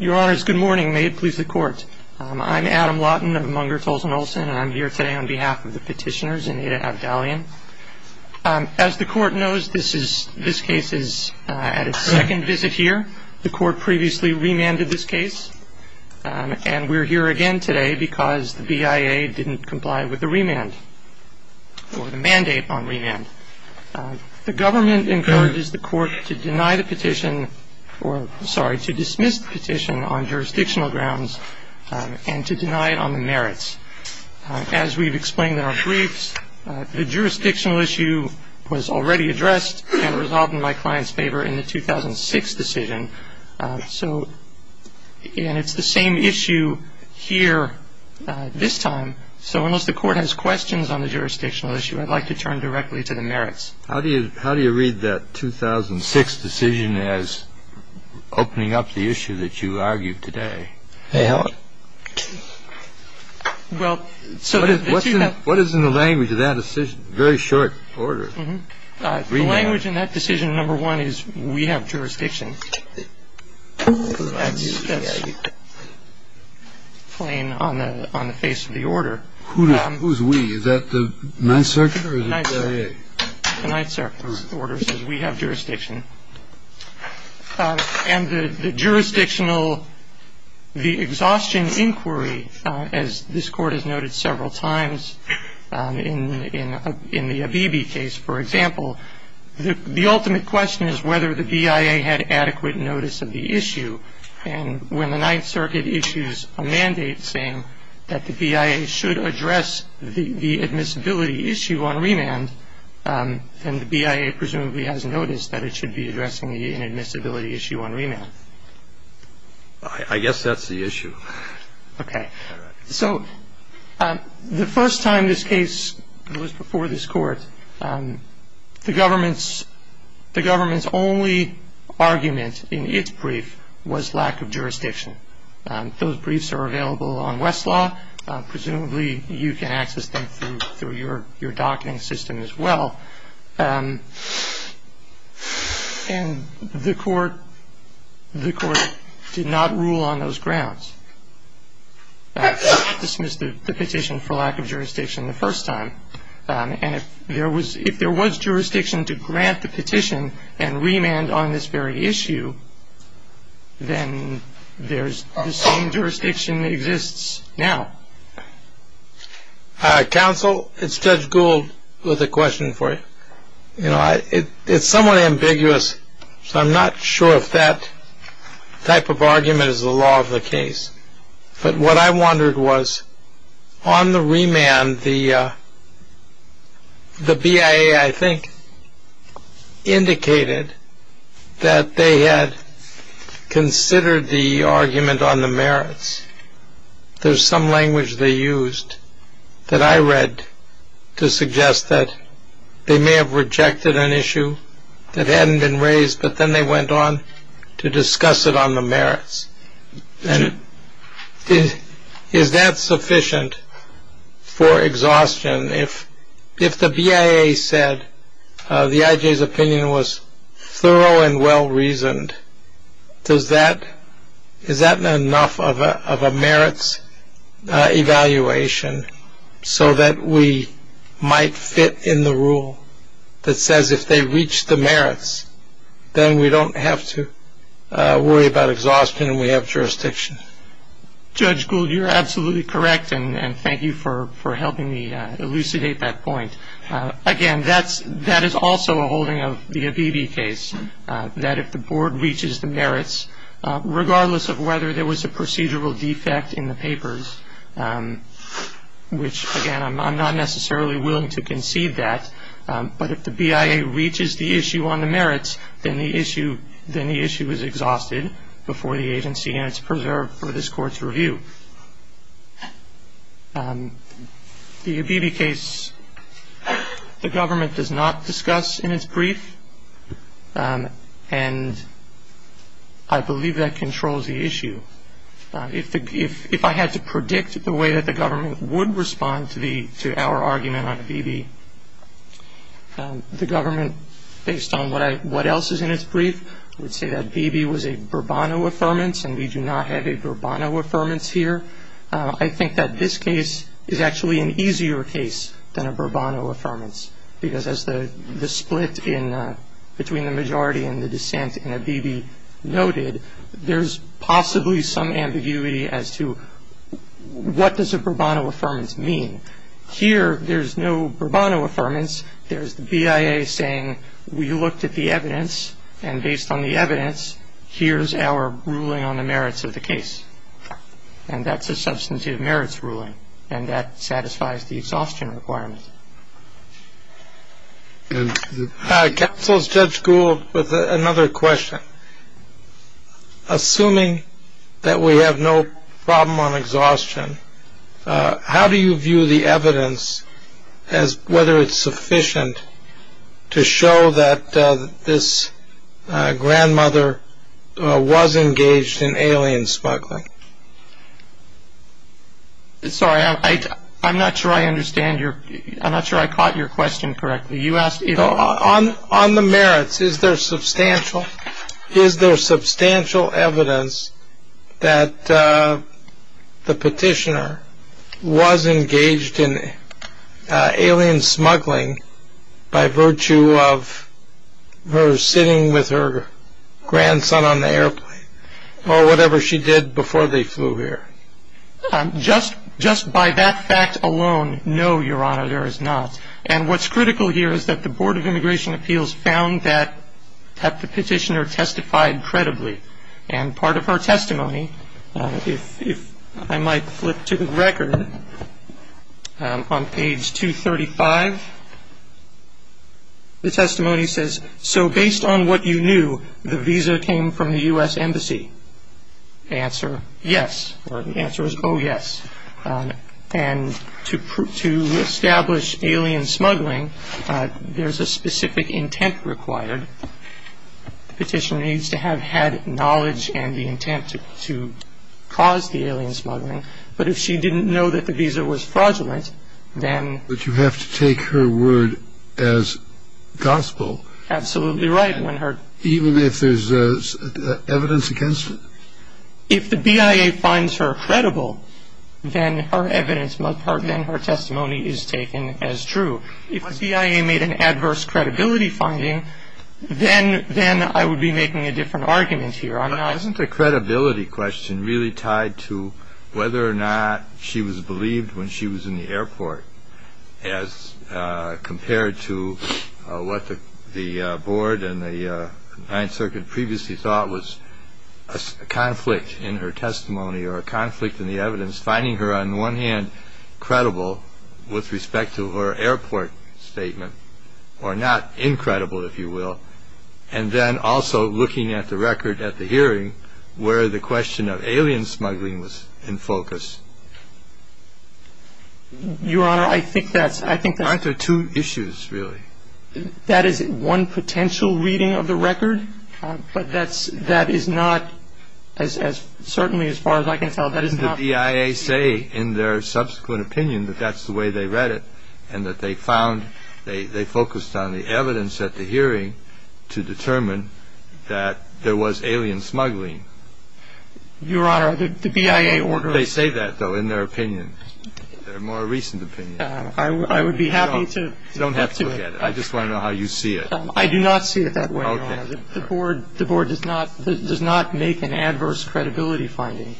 Your honors, good morning. May it please the court. I'm Adam Lawton of Munger Tolson Olson and I'm here today on behalf of the petitioners in Ada Abdalyan. As the court knows, this case is at its second visit here. The court previously remanded this case. And we're here again today because the BIA didn't comply with the remand or the mandate on remand. The government encourages the court to deny the petition or sorry to dismiss the petition on jurisdictional grounds and to deny it on the merits. As we've explained in our briefs, the jurisdictional issue was already addressed and resolved in my client's favor in the 2006 decision. So it's the same issue here this time. So unless the court has questions on the jurisdictional issue, I'd like to turn directly to the merits. How do you how do you read that 2006 decision as opening up the issue that you argue today? Well, so what is what is in the language of that decision? Very short order. Language in that decision. Number one is we have jurisdiction. That's plain on the on the face of the order. Who is we? Is that the Ninth Circuit or the BIA? The Ninth Circuit order says we have jurisdiction. And the jurisdictional the exhaustion inquiry, as this court has noted several times in in in the Abebe case, for example, the ultimate question is whether the BIA had adequate notice of the issue. And when the Ninth Circuit issues a mandate saying that the BIA should address the admissibility issue on remand, then the BIA presumably has noticed that it should be addressing the inadmissibility issue on remand. I guess that's the issue. OK. So the first time this case was before this court, the government's the government's only argument in its brief was lack of jurisdiction. Those briefs are available on Westlaw. Presumably you can access them through through your your docking system as well. And the court, the court did not rule on those grounds. Dismissed the petition for lack of jurisdiction the first time. And if there was if there was jurisdiction to grant the petition and remand on this very issue, then there's some jurisdiction exists now. Council, it's Judge Gould with a question for you. You know, it's somewhat ambiguous, so I'm not sure if that type of argument is the law of the case. But what I wondered was on the remand, the the BIA, I think, indicated that they had considered the argument on the merits. There's some language they used that I read to suggest that they may have rejected an issue that hadn't been raised. But then they went on to discuss it on the merits. And is that sufficient for exhaustion? If if the BIA said the IJ's opinion was thorough and well-reasoned, does that. Is that not enough of a of a merits evaluation so that we might fit in the rule that says if they reach the merits, then we don't have to worry about exhaustion and we have jurisdiction. Judge Gould, you're absolutely correct. And thank you for helping me elucidate that point. Again, that's that is also a holding of the ABB case, that if the board reaches the merits, regardless of whether there was a procedural defect in the papers, which again, I'm not necessarily willing to concede that. But if the BIA reaches the issue on the merits, then the issue, then the issue is exhausted before the agency and it's preserved for this court's review. The ABB case, the government does not discuss in its brief. And I believe that controls the issue. If if if I had to predict the way that the government would respond to the to our argument on ABB, the government, based on what I what else is in its brief, would say that ABB was a Burbano affirmance and we do not have a Burbano affirmance here. I think that this case is actually an easier case than a Burbano affirmance, because as the split in between the majority and the dissent in ABB noted, there's possibly some ambiguity as to what does a Burbano affirmance mean. Here, there's no Burbano affirmance. There's the BIA saying we looked at the evidence and based on the evidence, here's our ruling on the merits of the case. And that's a substantive merits ruling. And that satisfies the exhaustion requirement. Counsel's Judge Gould with another question. Assuming that we have no problem on exhaustion, how do you view the evidence as whether it's sufficient to show that this grandmother was engaged in alien smuggling? Sorry, I'm not sure I understand your I'm not sure I caught your question correctly. On the merits, is there substantial? Is there substantial evidence that the petitioner was engaged in alien smuggling by virtue of her sitting with her grandson on the airplane or whatever she did before they flew here? Just just by that fact alone. No, Your Honor, there is not. And what's critical here is that the Board of Immigration Appeals found that the petitioner testified credibly. And part of her testimony, if I might flip to the record, on page 235, the testimony says, so based on what you knew, the visa came from the U.S. Embassy. Answer, yes. The answer is, oh, yes. And to establish alien smuggling, there's a specific intent required. The petitioner needs to have had knowledge and the intent to cause the alien smuggling. But if she didn't know that the visa was fraudulent, then But you have to take her word as gospel. Absolutely right. Even if there's evidence against it? If the BIA finds her credible, then her testimony is taken as true. If the BIA made an adverse credibility finding, then I would be making a different argument here. Isn't the credibility question really tied to whether or not she was believed when she was in the airport as compared to what the board and the Ninth Circuit previously thought was a conflict in her testimony or a conflict in the evidence, finding her, on the one hand, credible with respect to her airport statement, or not incredible, if you will, and then also looking at the record at the hearing where the question of alien smuggling was in focus? Your Honor, I think that's... Aren't there two issues, really? That is one potential reading of the record. But that is not, certainly as far as I can tell, that is not... Didn't the BIA say in their subsequent opinion that that's the way they read it and that they found, they focused on the evidence at the hearing to determine that there was alien smuggling? Your Honor, the BIA ordered... They say that, though, in their opinion, their more recent opinion. I would be happy to... You don't have to look at it. I just want to know how you see it. I do not see it that way, Your Honor. Okay. The board does not make an adverse credibility finding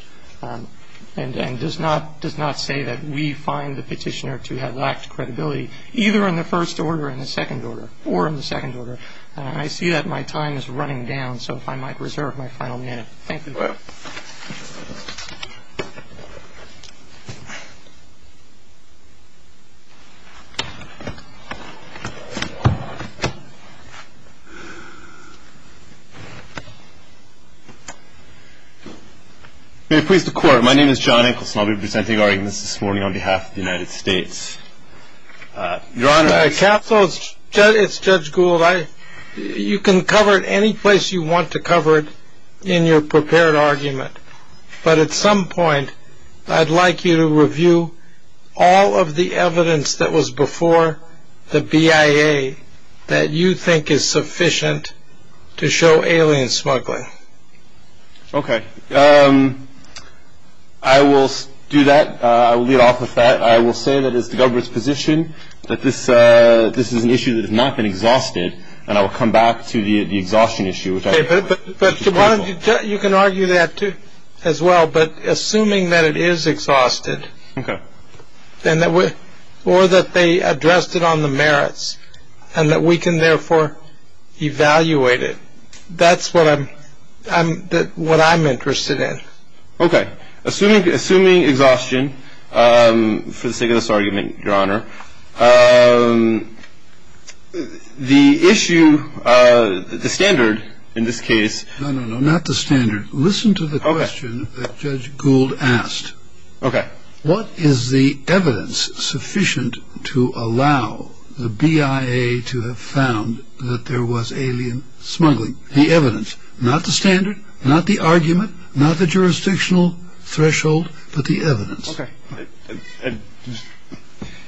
and does not say that we find the petitioner to have lacked credibility, either in the first order or in the second order. I see that my time is running down, so if I might reserve my final minute. Thank you. You're welcome. May it please the Court, my name is John Enkelson. I'll be presenting our arguments this morning on behalf of the United States. Your Honor, I... Counsel, it's Judge Gould. You can cover it any place you want to cover it in your prepared argument, but at some point I'd like you to review all of the evidence that was before the BIA that you think is sufficient to show alien smuggling. Okay. I will do that. I will lead off with that. I will say that it's the government's position that this is an issue that has not been exhausted, and I will come back to the exhaustion issue, which I... But, Your Honor, you can argue that as well, but assuming that it is exhausted... Okay. ...or that they addressed it on the merits and that we can therefore evaluate it, that's what I'm interested in. Okay. Assuming exhaustion for the sake of this argument, Your Honor, the issue, the standard in this case... No, no, no, not the standard. Listen to the question that Judge Gould asked. Okay. What is the evidence sufficient to allow the BIA to have found that there was alien smuggling? The evidence. Not the standard, not the argument, not the jurisdictional threshold, but the evidence. Okay.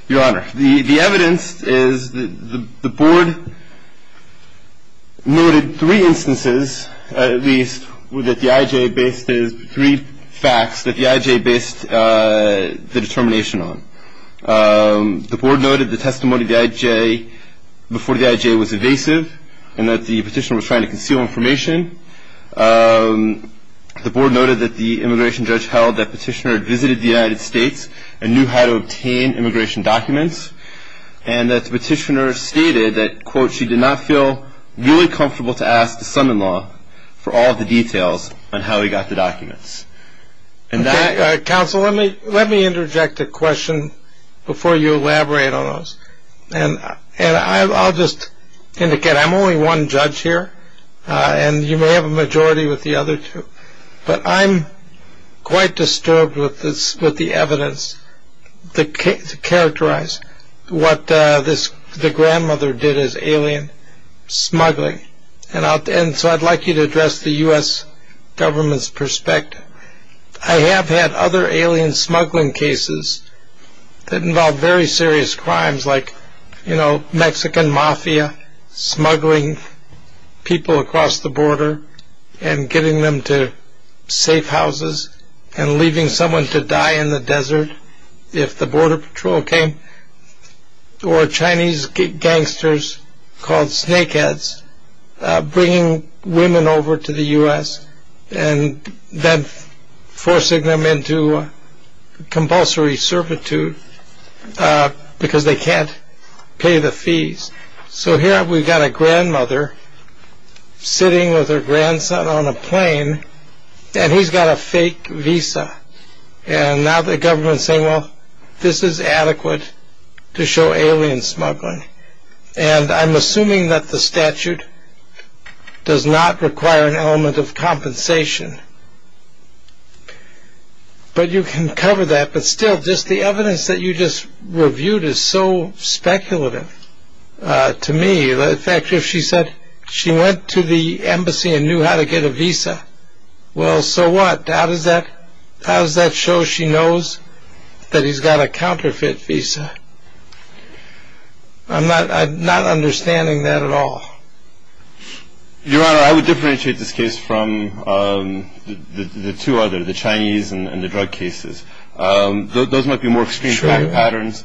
Your Honor, the evidence is the Board noted three instances, at least, that the IJ based three facts that the IJ based the determination on. The Board noted the testimony of the IJ before the IJ was evasive and that the petitioner was trying to conceal information. The Board noted that the immigration judge held that petitioner had visited the United States and knew how to obtain immigration documents and that the petitioner stated that, quote, she did not feel really comfortable to ask the son-in-law for all of the details on how he got the documents. And that... Counsel, let me interject a question before you elaborate on those. And I'll just indicate I'm only one judge here, and you may have a majority with the other two. But I'm quite disturbed with the evidence to characterize what the grandmother did as alien smuggling. And so I'd like you to address the U.S. government's perspective. I have had other alien smuggling cases that involve very serious crimes like, you know, Mexican mafia smuggling people across the border and getting them to safe houses and leaving someone to die in the desert if the border patrol came, or Chinese gangsters called snakeheads bringing women over to the U.S. and then forcing them into compulsory servitude because they can't pay the fees. So here we've got a grandmother sitting with her grandson on a plane, and he's got a fake visa. And now the government's saying, well, this is adequate to show alien smuggling. And I'm assuming that the statute does not require an element of compensation. But you can cover that. But still, just the evidence that you just reviewed is so speculative to me. In fact, if she said she went to the embassy and knew how to get a visa, well, so what? How does that show she knows that he's got a counterfeit visa? I'm not understanding that at all. Your Honor, I would differentiate this case from the two other, the Chinese and the drug cases. Those might be more extreme patterns.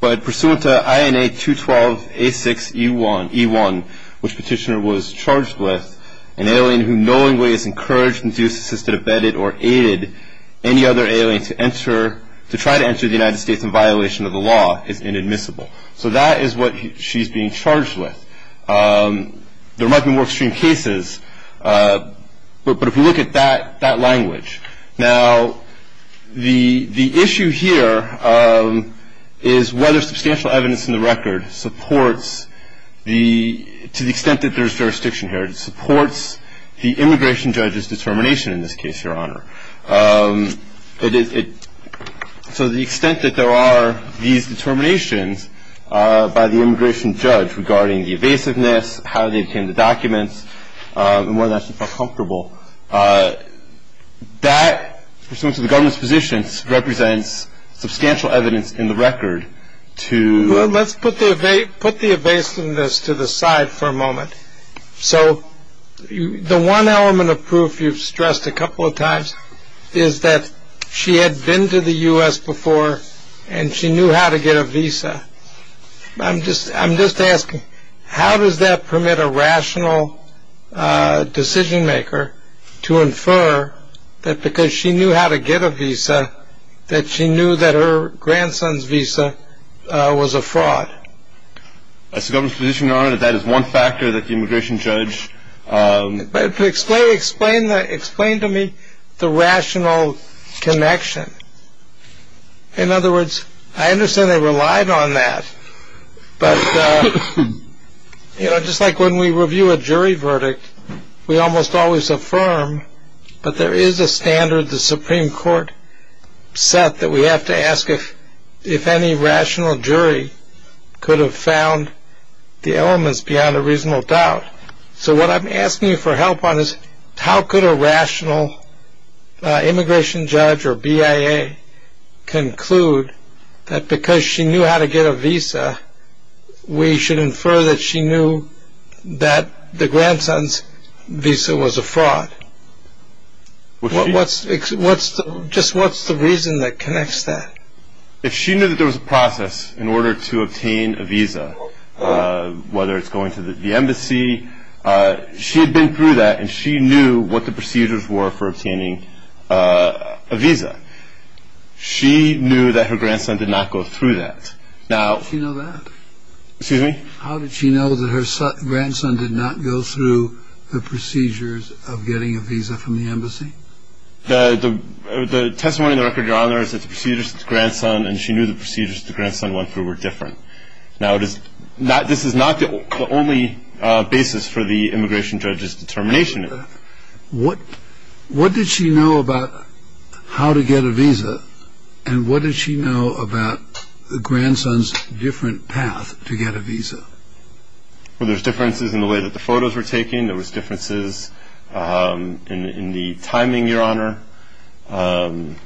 But pursuant to INA 212A6E1, which Petitioner was charged with, an alien who knowingly is encouraged, induced, assisted, abetted, or aided any other alien to try to enter the United States in violation of the law is inadmissible. So that is what she's being charged with. There might be more extreme cases, but if we look at that language. Now, the issue here is whether substantial evidence in the record supports, to the extent that there's jurisdiction here, supports the immigration judge's determination in this case, Your Honor. So the extent that there are these determinations by the immigration judge regarding the evasiveness, how they obtained the documents, and whether or not she felt comfortable, that, pursuant to the government's positions, represents substantial evidence in the record to. Well, let's put the evasiveness to the side for a moment. So the one element of proof you've stressed a couple of times is that she had been to the U.S. before, and she knew how to get a visa. I'm just asking, how does that permit a rational decision maker to infer that because she knew how to get a visa, that she knew that her grandson's visa was a fraud? As the government's position, Your Honor, that that is one factor that the immigration judge. Explain to me the rational connection. In other words, I understand they relied on that. But just like when we review a jury verdict, we almost always affirm, but there is a standard the Supreme Court set that we have to ask if any rational jury could have found the elements beyond a reasonable doubt. So what I'm asking you for help on is, how could a rational immigration judge or BIA conclude that because she knew how to get a visa, we should infer that she knew that the grandson's visa was a fraud? Just what's the reason that connects that? If she knew that there was a process in order to obtain a visa, whether it's going to the embassy, she had been through that and she knew what the procedures were for obtaining a visa. She knew that her grandson did not go through that. How did she know that? Excuse me? How did she know that her grandson did not go through the procedures of getting a visa from the embassy? The testimony in the record, Your Honor, is that the procedures that the grandson and she knew the procedures the grandson went through were different. Now, this is not the only basis for the immigration judge's determination. What did she know about how to get a visa? And what did she know about the grandson's different path to get a visa? Well, there's differences in the way that the photos were taken. There was differences in the timing, Your Honor. Can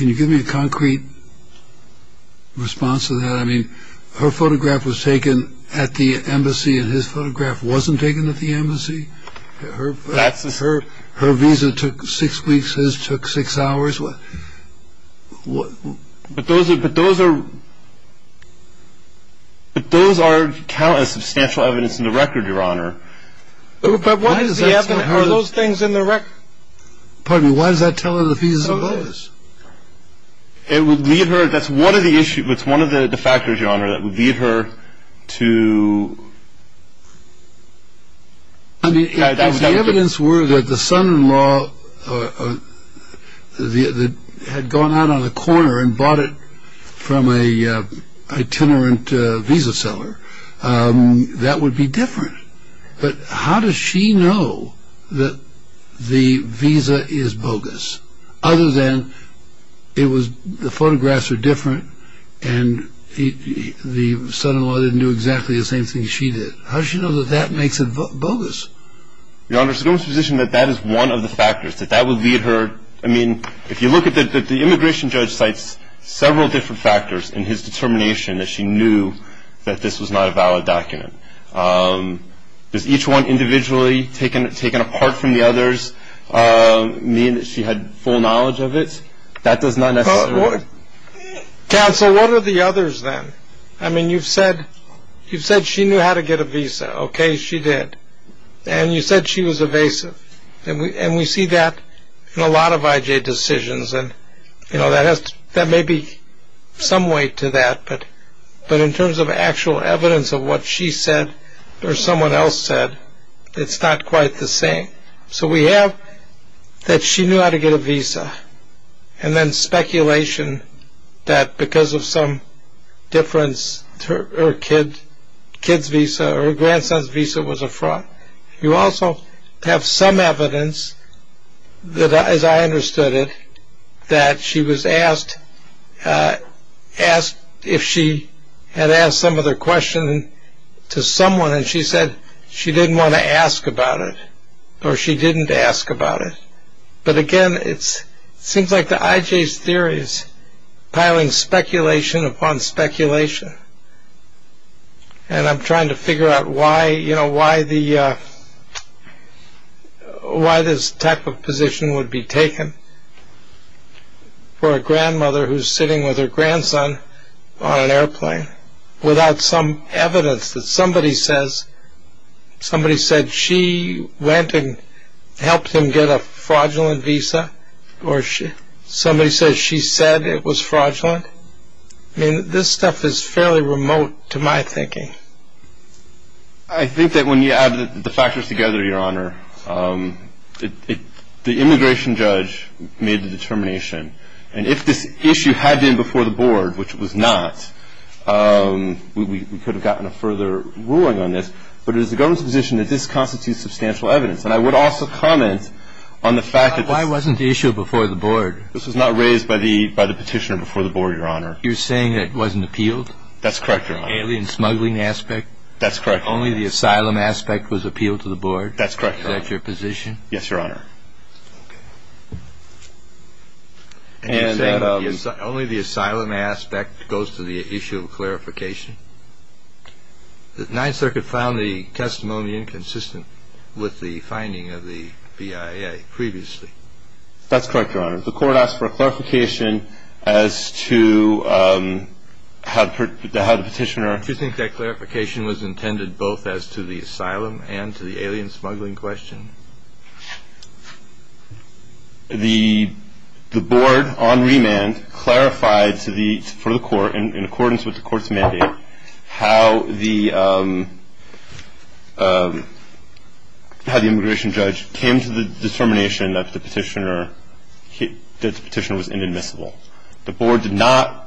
you give me a concrete response to that? I mean, her photograph was taken at the embassy and his photograph wasn't taken at the embassy. Her visa took six weeks, his took six hours. But those are count as substantial evidence in the record, Your Honor. But why does the evidence, are those things in the record? Pardon me, why does that tell her the visa was? It would lead her, that's one of the issues, it's one of the factors, Your Honor, that would lead her to... I mean, if the evidence were that the son-in-law had gone out on the corner and bought it from a itinerant visa seller, that would be different. But how does she know that the visa is bogus? Other than it was, the photographs are different and the son-in-law didn't do exactly the same thing she did. How does she know that that makes it bogus? Your Honor, so go into the position that that is one of the factors, that that would lead her... I mean, if you look at the immigration judge cites several different factors in his determination that she knew that this was not a valid document. Does each one individually taken apart from the others mean that she had full knowledge of it? That does not necessarily... Counsel, what are the others then? I mean, you've said she knew how to get a visa, okay, she did. And you said she was evasive. And we see that in a lot of IJ decisions, and that may be some way to that, but in terms of actual evidence of what she said or someone else said, it's not quite the same. So we have that she knew how to get a visa, and then speculation that because of some difference, her kid's visa or her grandson's visa was a fraud. You also have some evidence that, as I understood it, that she was asked if she had asked some other question to someone, and she said she didn't want to ask about it, or she didn't ask about it. But again, it seems like the IJ's theory is piling speculation upon speculation. And I'm trying to figure out why this type of position would be taken for a grandmother who's sitting with her grandson on an airplane without some evidence that somebody says she went and helped him get a fraudulent visa, or somebody says she said it was fraudulent. I mean, this stuff is fairly remote to my thinking. I think that when you add the factors together, Your Honor, the immigration judge made the determination. And if this issue had been before the board, which it was not, we could have gotten a further ruling on this. But it is the government's position that this constitutes substantial evidence. And I would also comment on the fact that this was not raised by the petitioner before the board, Your Honor. You're saying it wasn't appealed? That's correct, Your Honor. Alien smuggling aspect? That's correct, Your Honor. Only the asylum aspect was appealed to the board? That's correct, Your Honor. Is that your position? Yes, Your Honor. And you're saying only the asylum aspect goes to the issue of clarification? The Ninth Circuit found the testimony inconsistent with the finding of the BIA previously. That's correct, Your Honor. The court asked for a clarification as to how the petitioner. Do you think that clarification was intended both as to the asylum and to the alien smuggling question? The board, on remand, clarified for the court, in accordance with the court's mandate, how the immigration judge came to the determination that the petitioner was inadmissible. The board did not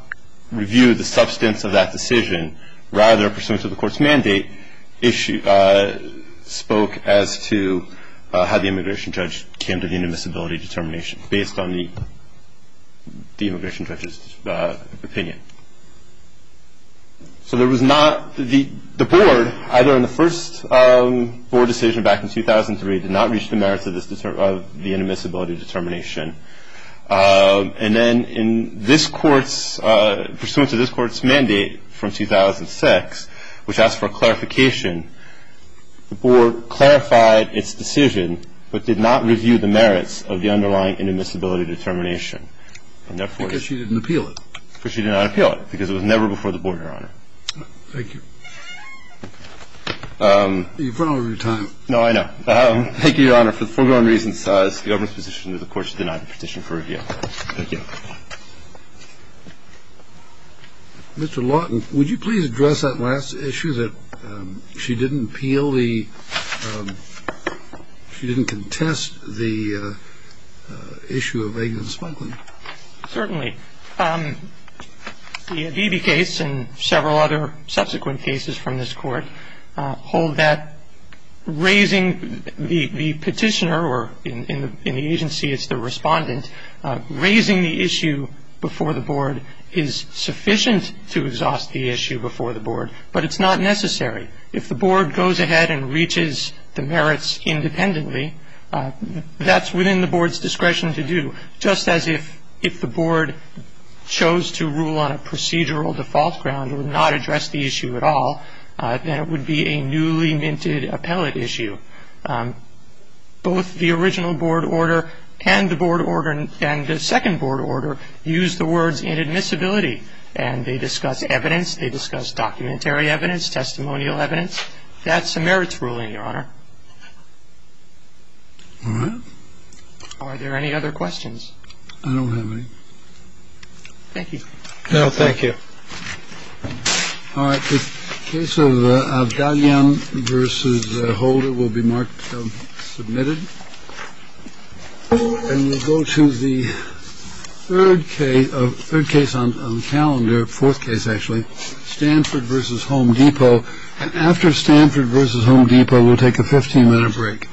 review the substance of that decision. Rather, pursuant to the court's mandate, spoke as to how the immigration judge came to the inadmissibility determination, based on the immigration judge's opinion. So there was not the board, either in the first board decision back in 2003, did not reach the merits of the inadmissibility determination. And then in this court's, pursuant to this court's mandate from 2006, which asked for clarification, the board clarified its decision, but did not review the merits of the underlying inadmissibility determination. And therefore, it's. Because she didn't appeal it. Because she did not appeal it. Because it was never before the board, Your Honor. Thank you. You've run out of your time. No, I know. Thank you, Your Honor. For the foregoing reasons, the government's position is the court should deny the petition for review. Thank you. Mr. Lawton, would you please address that last issue that she didn't appeal the ‑‑ she didn't contest the issue of eggs and spunking? Certainly. The Adibi case and several other subsequent cases from this court hold that raising the petitioner, or in the agency it's the respondent, raising the issue before the board is sufficient to exhaust the issue before the board. But it's not necessary. If the board goes ahead and reaches the merits independently, that's within the board's discretion to do, just as if the board chose to rule on a procedural default ground or not address the issue at all, then it would be a newly minted appellate issue. Both the original board order and the board order and the second board order use the words inadmissibility, and they discuss evidence, they discuss documentary evidence, testimonial evidence. That's a merits ruling, Your Honor. All right. Are there any other questions? I don't have any. Thank you. No, thank you. All right. Case of Diane versus Holder will be marked submitted. And we'll go to the third case of third case on the calendar. Fourth case, actually, Stanford versus Home Depot. And after Stanford versus Home Depot, we'll take a 15 minute break.